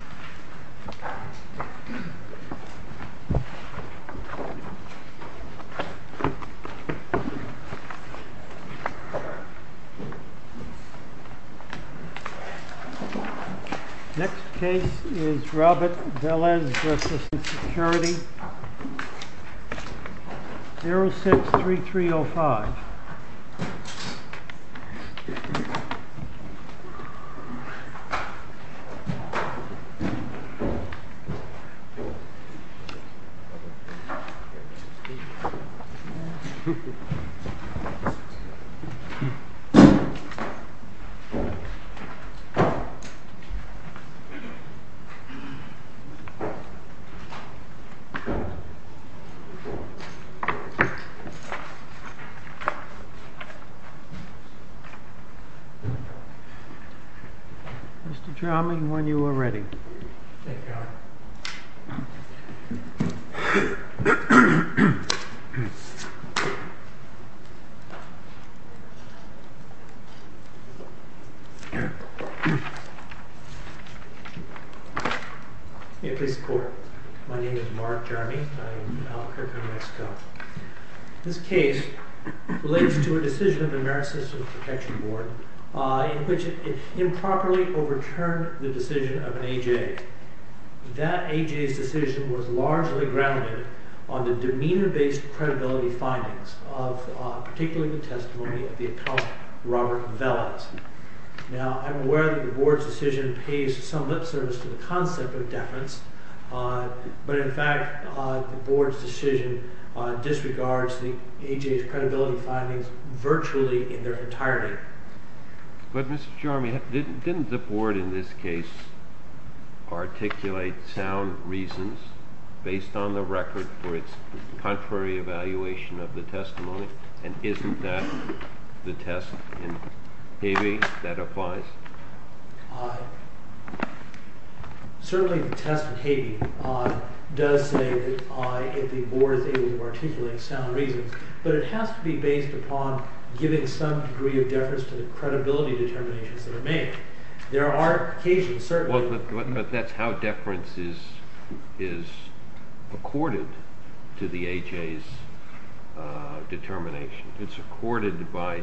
The next case is Robert Velez v. Security, 06-3305. Robert Velez v. Security, 06-3305. Mr. Jarman, when you are ready. Thank you. May it please the court. My name is Mark Jarman. I am a clerk in Mexico. This case relates to a decision of the American System of Protection Board in which it improperly overturned the decision of an A.J. That A.J.'s decision was largely grounded on the demeanor-based credibility findings of particularly the testimony of the accountant Robert Velez. Now, I'm aware that the board's decision pays some lip service to the concept of deference but, in fact, the board's decision disregards the A.J.'s credibility findings virtually in their entirety. But, Mr. Jarman, didn't the board in this case articulate sound reasons based on the record for its contrary evaluation of the testimony and isn't that the test in heavy that applies? Certainly the test in heavy does say that the board is able to articulate sound reasons but it has to be based upon giving some degree of deference to the credibility determinations that are made. There are occasions, certainly. But that's how deference is accorded to the A.J.'s determination. It's accorded by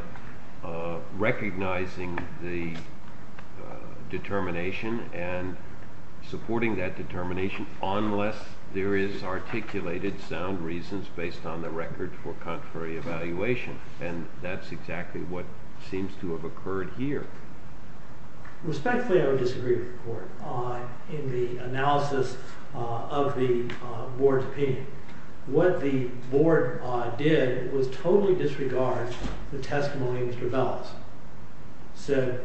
recognizing the determination and supporting that determination unless there is articulated sound reasons based on the record for contrary evaluation and that's exactly what seems to have occurred here. Respectfully, I would disagree with the court in the analysis of the board's opinion. What the board did was totally disregard the testimony of Mr. Bellis. So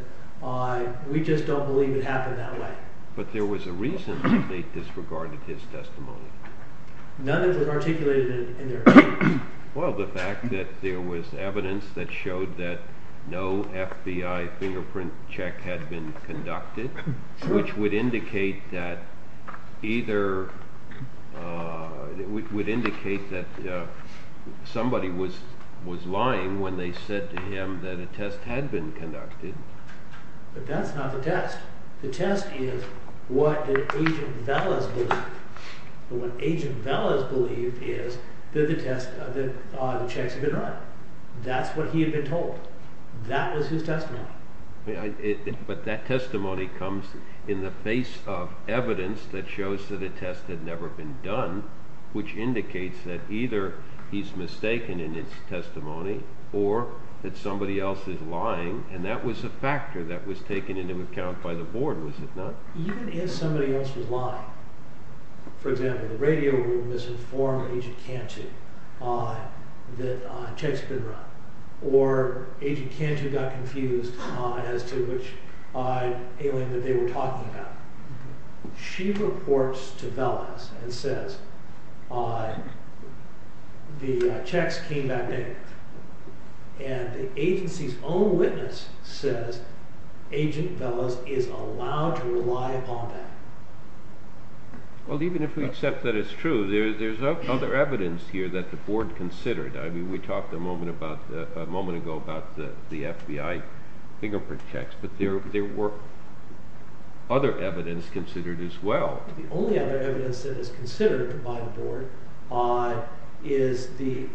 we just don't believe it happened that way. But there was a reason that they disregarded his testimony. None of it was articulated in their evidence. Well, the fact that there was evidence that showed that no FBI fingerprint check had been conducted which would indicate that somebody was lying when they said to him that a test had been conducted. But that's not the test. The test is what Agent Bellis believed. What Agent Bellis believed is that the checks had been run. That's what he had been told. That was his testimony. But that testimony comes in the face of evidence that shows that a test had never been done which indicates that either he's mistaken in his testimony or that somebody else is lying and that was a factor that was taken into account by the board, was it not? Even if somebody else was lying, for example, the radio room misinformed Agent Cantu that checks had been run or Agent Cantu got confused as to which alien that they were talking about. She reports to Bellis and says the checks came back in and the agency's own witness says Agent Bellis is allowed to rely upon that. Well, even if we accept that it's true, there's other evidence here that the board considered. We talked a moment ago about the FBI fingerprint checks, but there were other evidence considered as well. The only other evidence that is considered by the board is the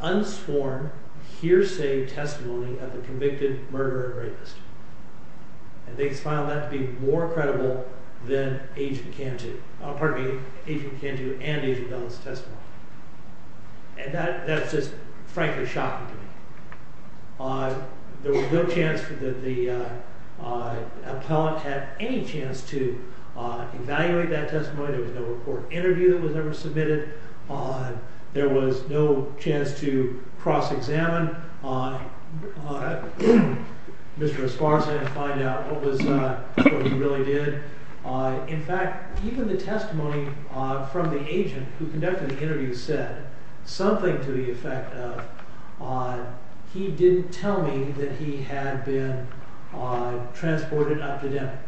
unsworn hearsay testimony of the convicted murder of a rapist. And they found that to be more credible than Agent Cantu and Agent Bellis' testimony. And that's just frankly shocking to me. There was no chance that the appellant had any chance to evaluate that testimony. There was no court interview that was ever submitted. There was no chance to cross-examine Mr. Esparza and find out what he really did. In fact, even the testimony from the agent who conducted the interview said something to the effect of he didn't tell me that he had been transported up to Denver.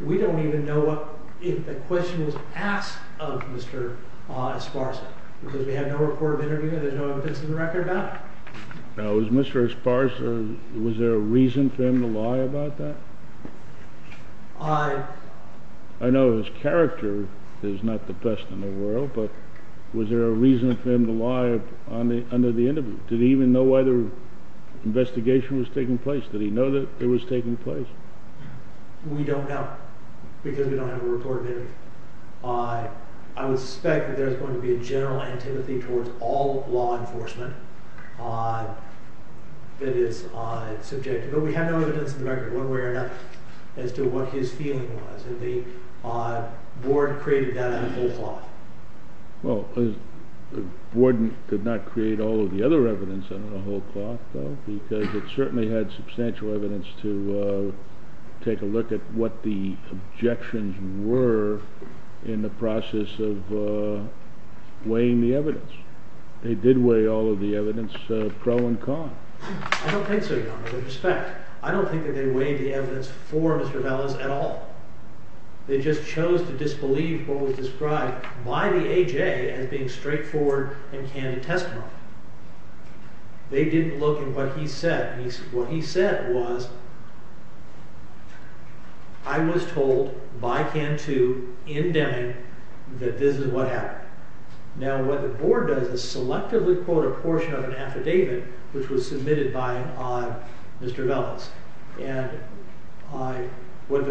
We don't even know if the question was asked of Mr. Esparza, because we have no report of interview and there's no evidence in the record about it. Now, was Mr. Esparza, was there a reason for him to lie about that? I know his character is not the best in the world, but was there a reason for him to lie under the interview? Did he even know why the investigation was taking place? Did he know that it was taking place? We don't know, because we don't have a report of interview. I would suspect that there's going to be a general antipathy towards all law enforcement that is subjective. But we have no evidence in the record, one way or another, as to what his feeling was. And the board created that on a whole cloth. Well, the board did not create all of the other evidence on a whole cloth, though, because it certainly had substantial evidence to take a look at what the objections were in the process of weighing the evidence. They did weigh all of the evidence, pro and con. I don't think so, Your Honor, with respect. I don't think that they weighed the evidence for Mr. Velas at all. They just chose to disbelieve what was described by the A.J. as being straightforward and candid testimony. They didn't look at what he said. What he said was, I was told by Cantoo in Deming that this is what happened. Now, what the board does is selectively quote a portion of an affidavit which was submitted by Mr. Velas. And what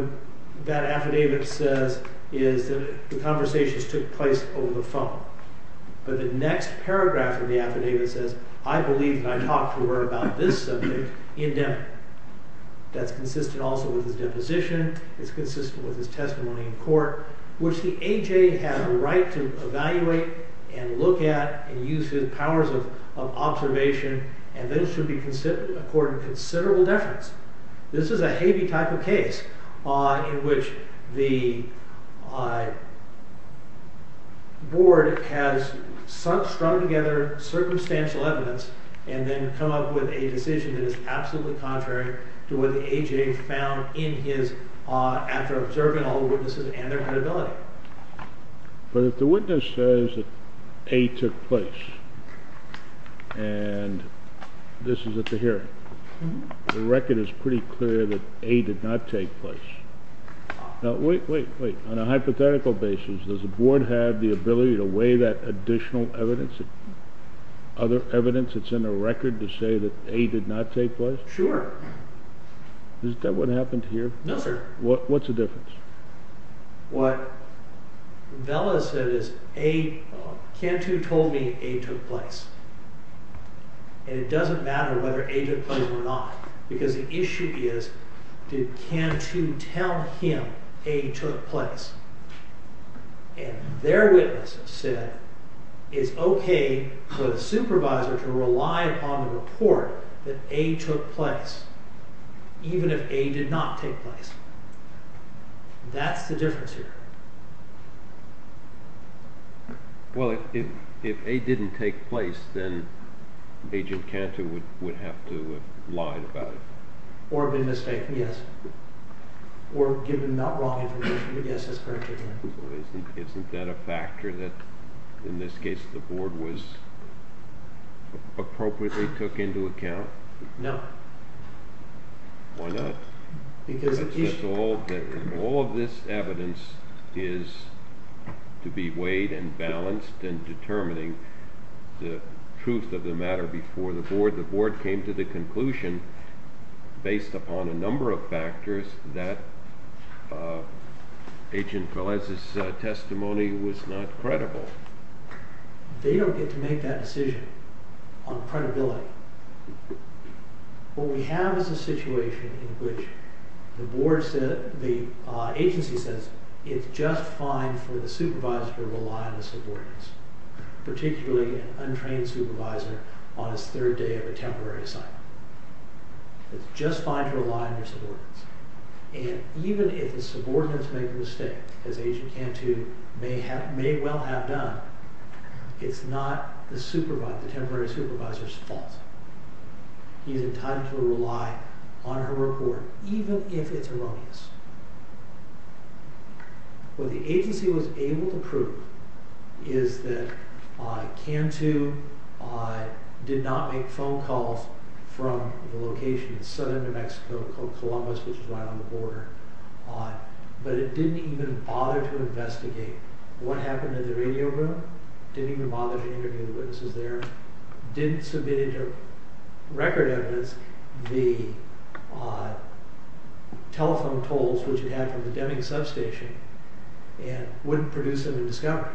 that affidavit says is that the conversations took place over the phone. But the next paragraph of the affidavit says, I believe that I talked to her about this subject in Deming. That's consistent also with his deposition, it's consistent with his testimony in court, which the A.J. had a right to evaluate and look at and use his powers of observation, and those should be accorded considerable deference. This is a heavy type of case in which the board has strung together circumstantial evidence and then come up with a decision that is absolutely contrary to what the A.J. found in his, after observing all the witnesses and their credibility. But if the witness says that A.J. took place and this is at the hearing, the record is pretty clear that A.J. did not take place. Now, wait, wait, wait. On a hypothetical basis, does the board have the ability to weigh that additional evidence, other evidence that's in the record to say that A.J. did not take place? Sure. Is that what happened here? No, sir. What's the difference? What Vela said is Cantu told me A.J. took place, and it doesn't matter whether A.J. took place or not because the issue is, did Cantu tell him A.J. took place? And their witness said it's okay for the supervisor to rely upon the report that A.J. took place, even if A.J. did not take place. That's the difference here. Well, if A.J. didn't take place, then Agent Cantu would have to have lied about it. Or been mistaken, yes. Or given not wrong information, yes, that's correct. Isn't that a factor that, in this case, the board was appropriately took into account? No. Why not? All of this evidence is to be weighed and balanced in determining the truth of the matter before the board. The board came to the conclusion, based upon a number of factors, that Agent Velez's testimony was not credible. They don't get to make that decision on credibility. What we have is a situation in which the agency says it's just fine for the supervisor to rely on the subordinates, particularly an untrained supervisor on his third day of a temporary assignment. It's just fine to rely on your subordinates. And even if the subordinates make a mistake, as Agent Cantu may well have done, it's not the temporary supervisor's fault. He's entitled to rely on her report, even if it's erroneous. What the agency was able to prove is that Cantu did not make phone calls from the location in southern New Mexico called Columbus, which is right on the border. But it didn't even bother to investigate what happened in the radio room. It didn't even bother to interview the witnesses there. It didn't submit any record evidence. The telephone tolls, which it had from the Deming substation, wouldn't produce any discovery.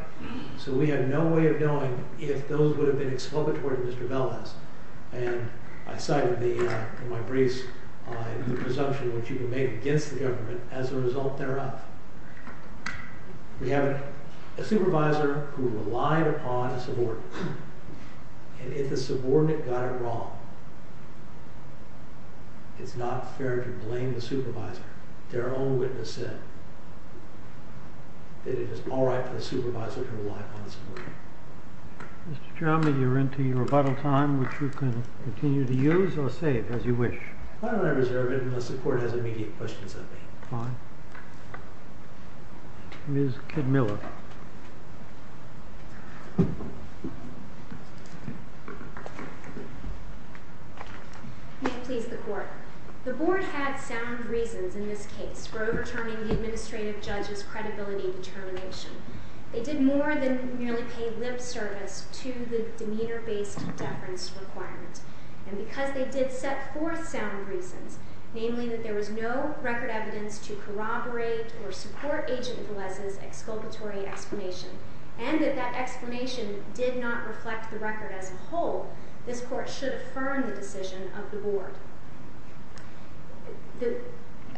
So we have no way of knowing if those would have been expulgatory to Mr. Velez. And I cited in my briefs the presumption which you can make against the government as a result thereof. We have a supervisor who relied upon a subordinate. And if the subordinate got it wrong, it's not fair to blame the supervisor. Their own witness said that it is all right for the supervisor to rely on the subordinate. Mr. Chalmers, you're into your rebuttal time, which you can continue to use or save as you wish. Why don't I reserve it unless the Court has immediate questions of me? Fine. Ms. Kidmiller. May it please the Court. The Board had sound reasons in this case for overturning the administrative judge's credibility determination. They did more than merely pay lip service to the demeanor-based deference requirement. And because they did set forth sound reasons, namely that there was no record evidence to corroborate or support Agent Velez's expulgatory explanation, and that that explanation did not reflect the record as a whole, this Court should affirm the decision of the Board.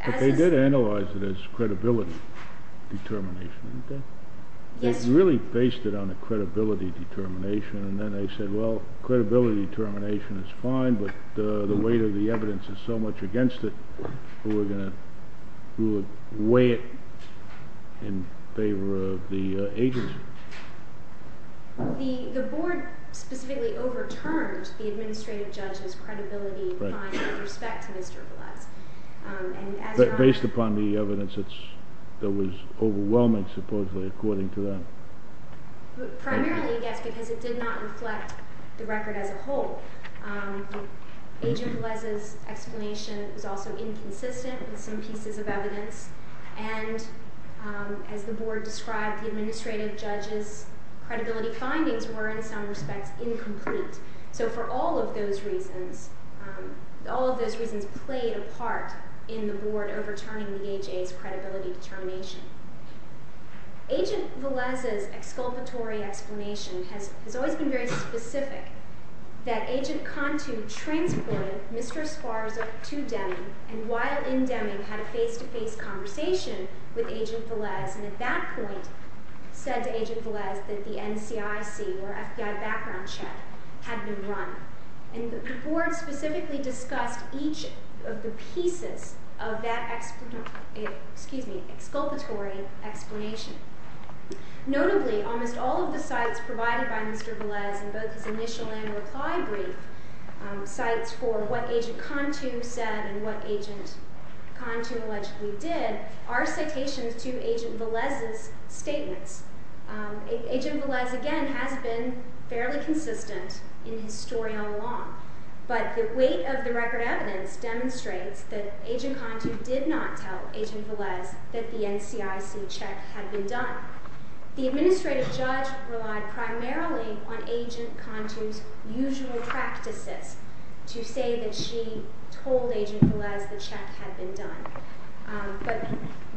But they did analyze it as credibility determination, didn't they? Yes. They really based it on a credibility determination. And then they said, well, credibility determination is fine, but the weight of the evidence is so much against it, we're going to weigh it in favor of the agency. The Board specifically overturned the administrative judge's credibility finding with respect to Mr. Velez. Based upon the evidence that was overwhelming, supposedly, according to that? Primarily, yes, because it did not reflect the record as a whole. Agent Velez's explanation was also inconsistent with some pieces of evidence. And as the Board described, the administrative judge's credibility findings were, in some respects, incomplete. So for all of those reasons, all of those reasons played a part in the Board overturning the AJA's credibility determination. Agent Velez's expulgatory explanation has always been very specific, that Agent Contu transported Mr. Esparza to Deming, and while in Deming, had a face-to-face conversation with Agent Velez, and at that point said to Agent Velez that the NCIC, or FBI background check, had been run. And the Board specifically discussed each of the pieces of that expulgatory explanation. Notably, almost all of the cites provided by Mr. Velez in both his initial and reply brief, cites for what Agent Contu said and what Agent Contu allegedly did, are citations to Agent Velez's statements. Agent Velez, again, has been fairly consistent in his story all along. But the weight of the record evidence demonstrates that Agent Contu did not tell Agent Velez that the NCIC check had been done. The administrative judge relied primarily on Agent Contu's usual practices to say that she told Agent Velez the check had been done. But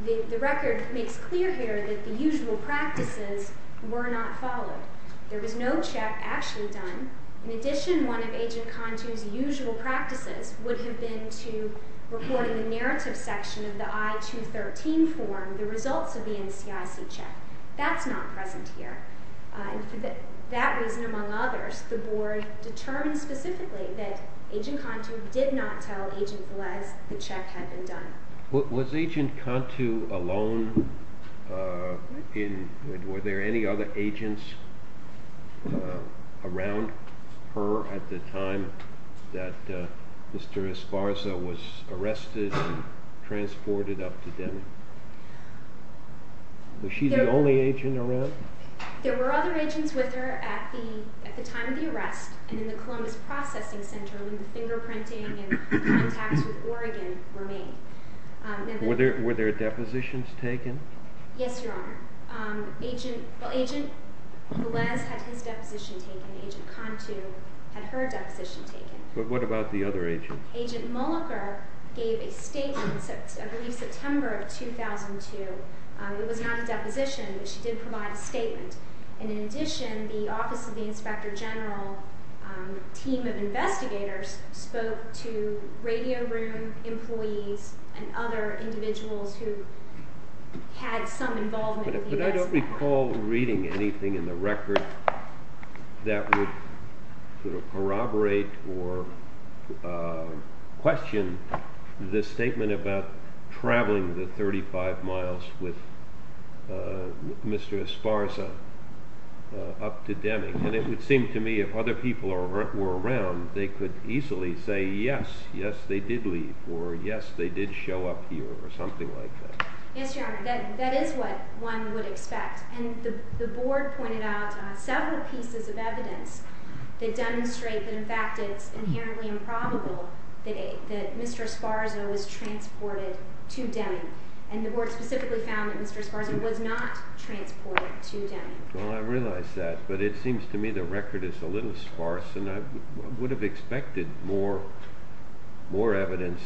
the record makes clear here that the usual practices were not followed. There was no check actually done. In addition, one of Agent Contu's usual practices would have been to report in the narrative section of the I-213 form the results of the NCIC check. That's not present here. And for that reason among others, the Board determined specifically that Agent Contu did not tell Agent Velez the check had been done. Was Agent Contu alone? Were there any other agents around her at the time that Mr. Esparza was arrested and transported up to Denver? Was she the only agent around? There were other agents with her at the time of the arrest and in the Columbus Processing Center when the fingerprinting and contacts with Oregon were made. Were there depositions taken? Yes, Your Honor. Agent Velez had his deposition taken. Agent Contu had her deposition taken. But what about the other agents? Agent Mulliker gave a statement, I believe September of 2002. It was not a deposition, but she did provide a statement. And in addition, the Office of the Inspector General team of investigators spoke to radio room employees and other individuals who had some involvement with the investigation. But I don't recall reading anything in the record that would corroborate or question the statement about traveling the 35 miles with Mr. Esparza up to Deming. And it would seem to me if other people were around, they could easily say yes, yes, they did leave or yes, they did show up here or something like that. Yes, Your Honor, that is what one would expect. And the board pointed out several pieces of evidence that demonstrate that in fact it's inherently improbable that Mr. Esparza was transported to Deming. And the board specifically found that Mr. Esparza was not transported to Deming. Well, I realize that. But it seems to me the record is a little sparse, and I would have expected more evidence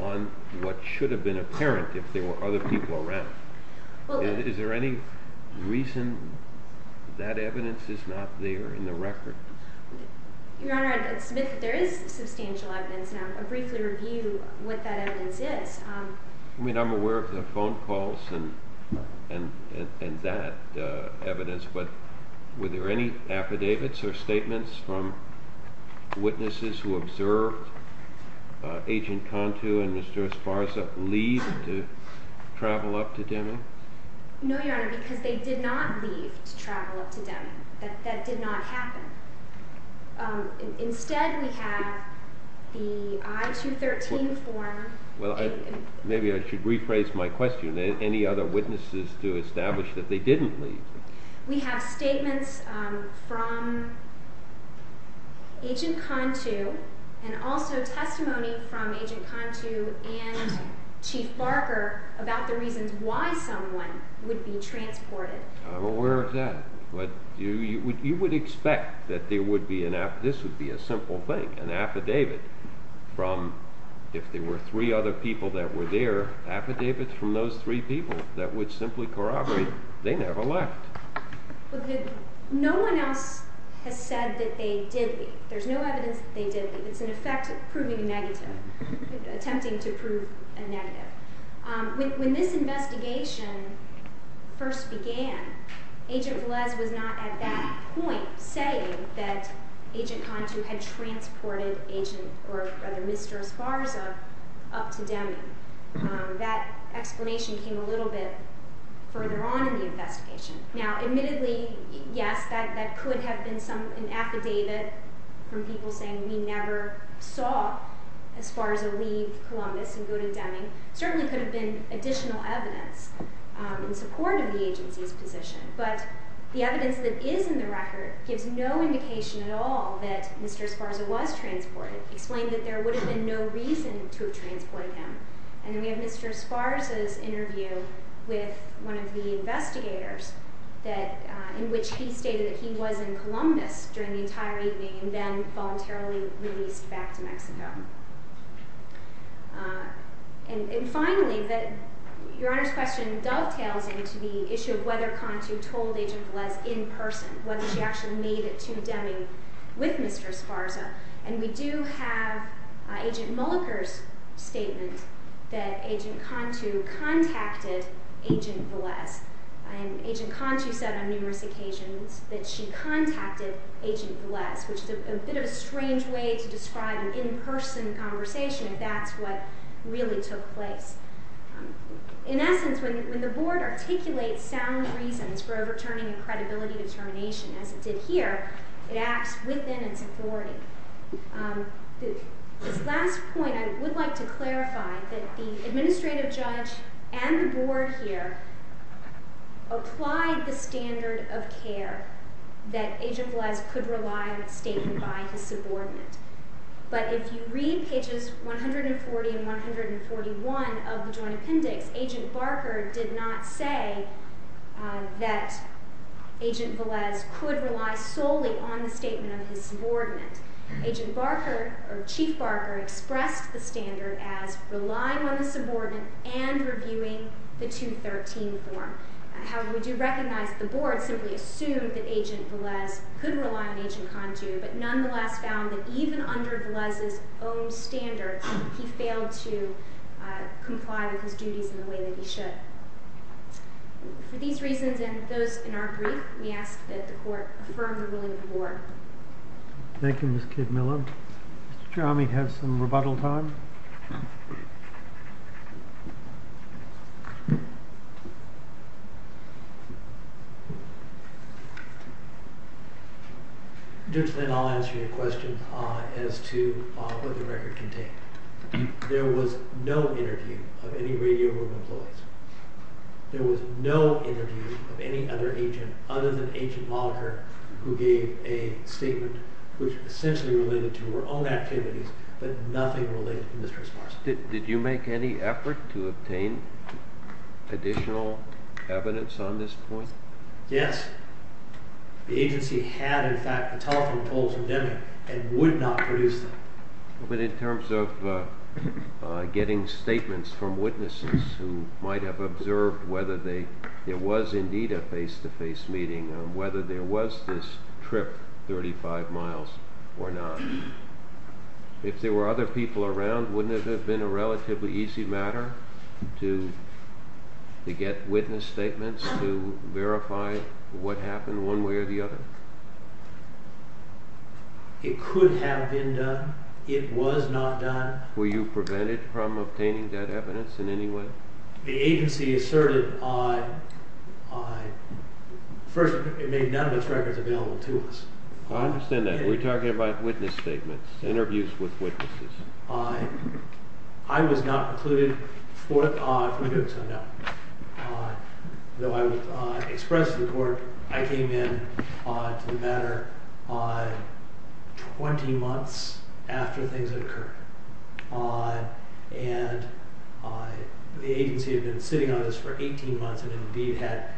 on what should have been apparent if there were other people around. Is there any reason that evidence is not there in the record? Your Honor, I'd submit that there is substantial evidence, and I'll briefly review what that evidence is. I mean, I'm aware of the phone calls and that evidence. But were there any affidavits or statements from witnesses who observed Agent Cantu and Mr. Esparza leave to travel up to Deming? No, Your Honor, because they did not leave to travel up to Deming. That did not happen. Instead, we have the I-213 form. Well, maybe I should rephrase my question. Are there any other witnesses to establish that they didn't leave? We have statements from Agent Cantu and also testimony from Agent Cantu and Chief Barker about the reasons why someone would be transported. I'm aware of that. But you would expect that this would be a simple thing, an affidavit from, if there were three other people that were there, affidavits from those three people that would simply corroborate they never left. No one else has said that they did leave. There's no evidence that they did leave. It's an effect of proving a negative, attempting to prove a negative. When this investigation first began, Agent Velez was not at that point saying that Agent Cantu had transported Agent or rather Mr. Esparza up to Deming. That explanation came a little bit further on in the investigation. Now admittedly, yes, that could have been an affidavit from people saying we never saw Esparza leave Columbus and go to Deming. Certainly could have been additional evidence in support of the agency's position. But the evidence that is in the record gives no indication at all that Mr. Esparza was transported, explaining that there would have been no reason to have transported him. And then we have Mr. Esparza's interview with one of the investigators in which he stated that he was in Columbus during the entire evening and then voluntarily released back to Mexico. And finally, Your Honor's question dovetails into the issue of whether Cantu told Agent Velez in person, whether she actually made it to Deming with Mr. Esparza. And we do have Agent Mulliker's statement that Agent Cantu contacted Agent Velez. And Agent Cantu said on numerous occasions that she contacted Agent Velez, which is a bit of a strange way to describe an in-person conversation if that's what really took place. In essence, when the Board articulates sound reasons for overturning a credibility determination as it did here, it acts within its authority. This last point, I would like to clarify that the administrative judge and the Board here applied the standard of care that Agent Velez could rely on a statement by his subordinate. But if you read pages 140 and 141 of the Joint Appendix, Agent Barker did not say that Agent Velez could rely solely on the statement of his subordinate. Agent Barker, or Chief Barker, expressed the standard as relying on the subordinate and reviewing the 213 form. However, we do recognize that the Board simply assumed that Agent Velez could rely on Agent Cantu, but nonetheless found that even under Velez's own standards, he failed to comply with his duties in the way that he should. For these reasons and those in our brief, we ask that the Court affirm the ruling of the Board. Thank you, Ms. Kidmiller. Mr. Chami has some rebuttal time. Judge Flynn, I'll answer your question as to what the record contained. There was no interview of any radio room employees. There was no interview of any other agent other than Agent Barker, who gave a statement which essentially related to her own activities, but nothing related to Mr. Esparza. Did you make any effort to obtain additional evidence on this point? Yes. The agency had, in fact, the telephone tolls indemnified and would not produce them. But in terms of getting statements from witnesses who might have observed whether there was indeed a face-to-face meeting, whether there was this trip 35 miles or not, if there were other people around, wouldn't it have been a relatively easy matter to get witness statements to verify what happened one way or the other? It could have been done. It was not done. Were you prevented from obtaining that evidence in any way? The agency asserted I – first, it made none of its records available to us. I understand that. Were you talking about witness statements, interviews with witnesses? I was not precluded from doing so, no. Though I expressed to the court, I came in to the matter 20 months after things had occurred. And the agency had been sitting on this for 18 months and, indeed, had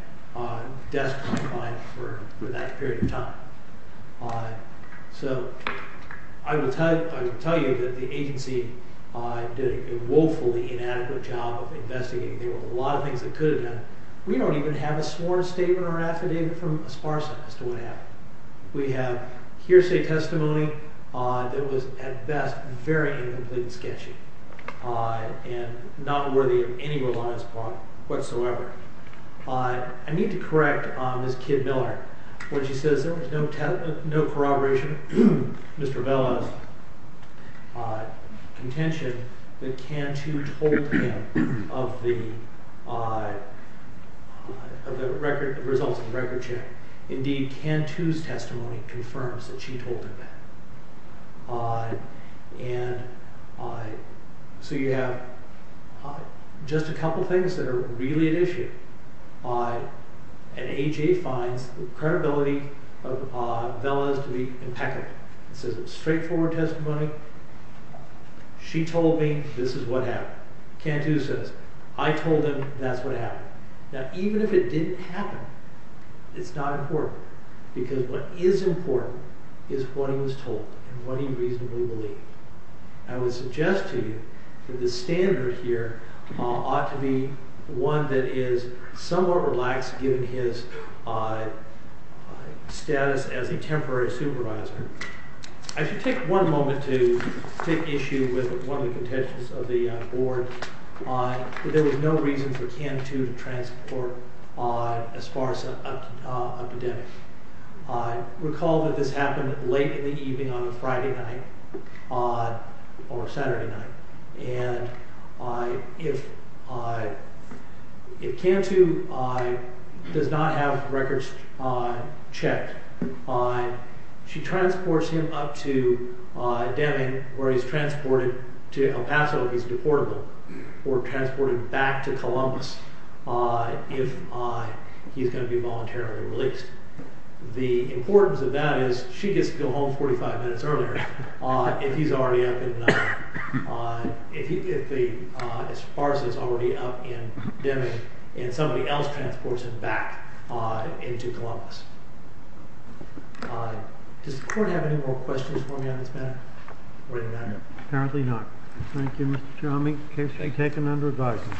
desk-to-desk for that period of time. So I will tell you that the agency did a woefully inadequate job of investigating. There were a lot of things that could have been done. We don't even have a sworn statement or affidavit from Esparza as to what happened. We have hearsay testimony that was, at best, very incomplete and sketchy and not worthy of any reliance upon whatsoever. I need to correct Ms. Kidd-Miller. When she says there was no corroboration, Mr. Vela's contention that Cantu told him of the results of the record check. Indeed, Cantu's testimony confirms that she told him that. So you have just a couple things that are really at issue. And A.J. finds the credibility of Vela to be impeccable. This is a straightforward testimony. She told me this is what happened. Cantu says, I told him that's what happened. Now, even if it didn't happen, it's not important. Because what is important is what he was told and what he reasonably believed. I would suggest to you that the standard here ought to be one that is somewhat relaxed given his status as a temporary supervisor. I should take one moment to take issue with one of the contentions of the board. There was no reason for Cantu to transport as far as up to Deming. Recall that this happened late in the evening on a Friday night or Saturday night. If Cantu does not have records checked, she transports him up to Deming, where he's transported to El Paso if he's deportable, or transported back to Columbus if he's going to be voluntarily released. The importance of that is she gets to go home 45 minutes earlier if he's already up in Deming and somebody else transports him back into Columbus. Does the court have any more questions for me on this matter? Apparently not. Thank you, Mr. Chalmey. Case has been taken under advisement.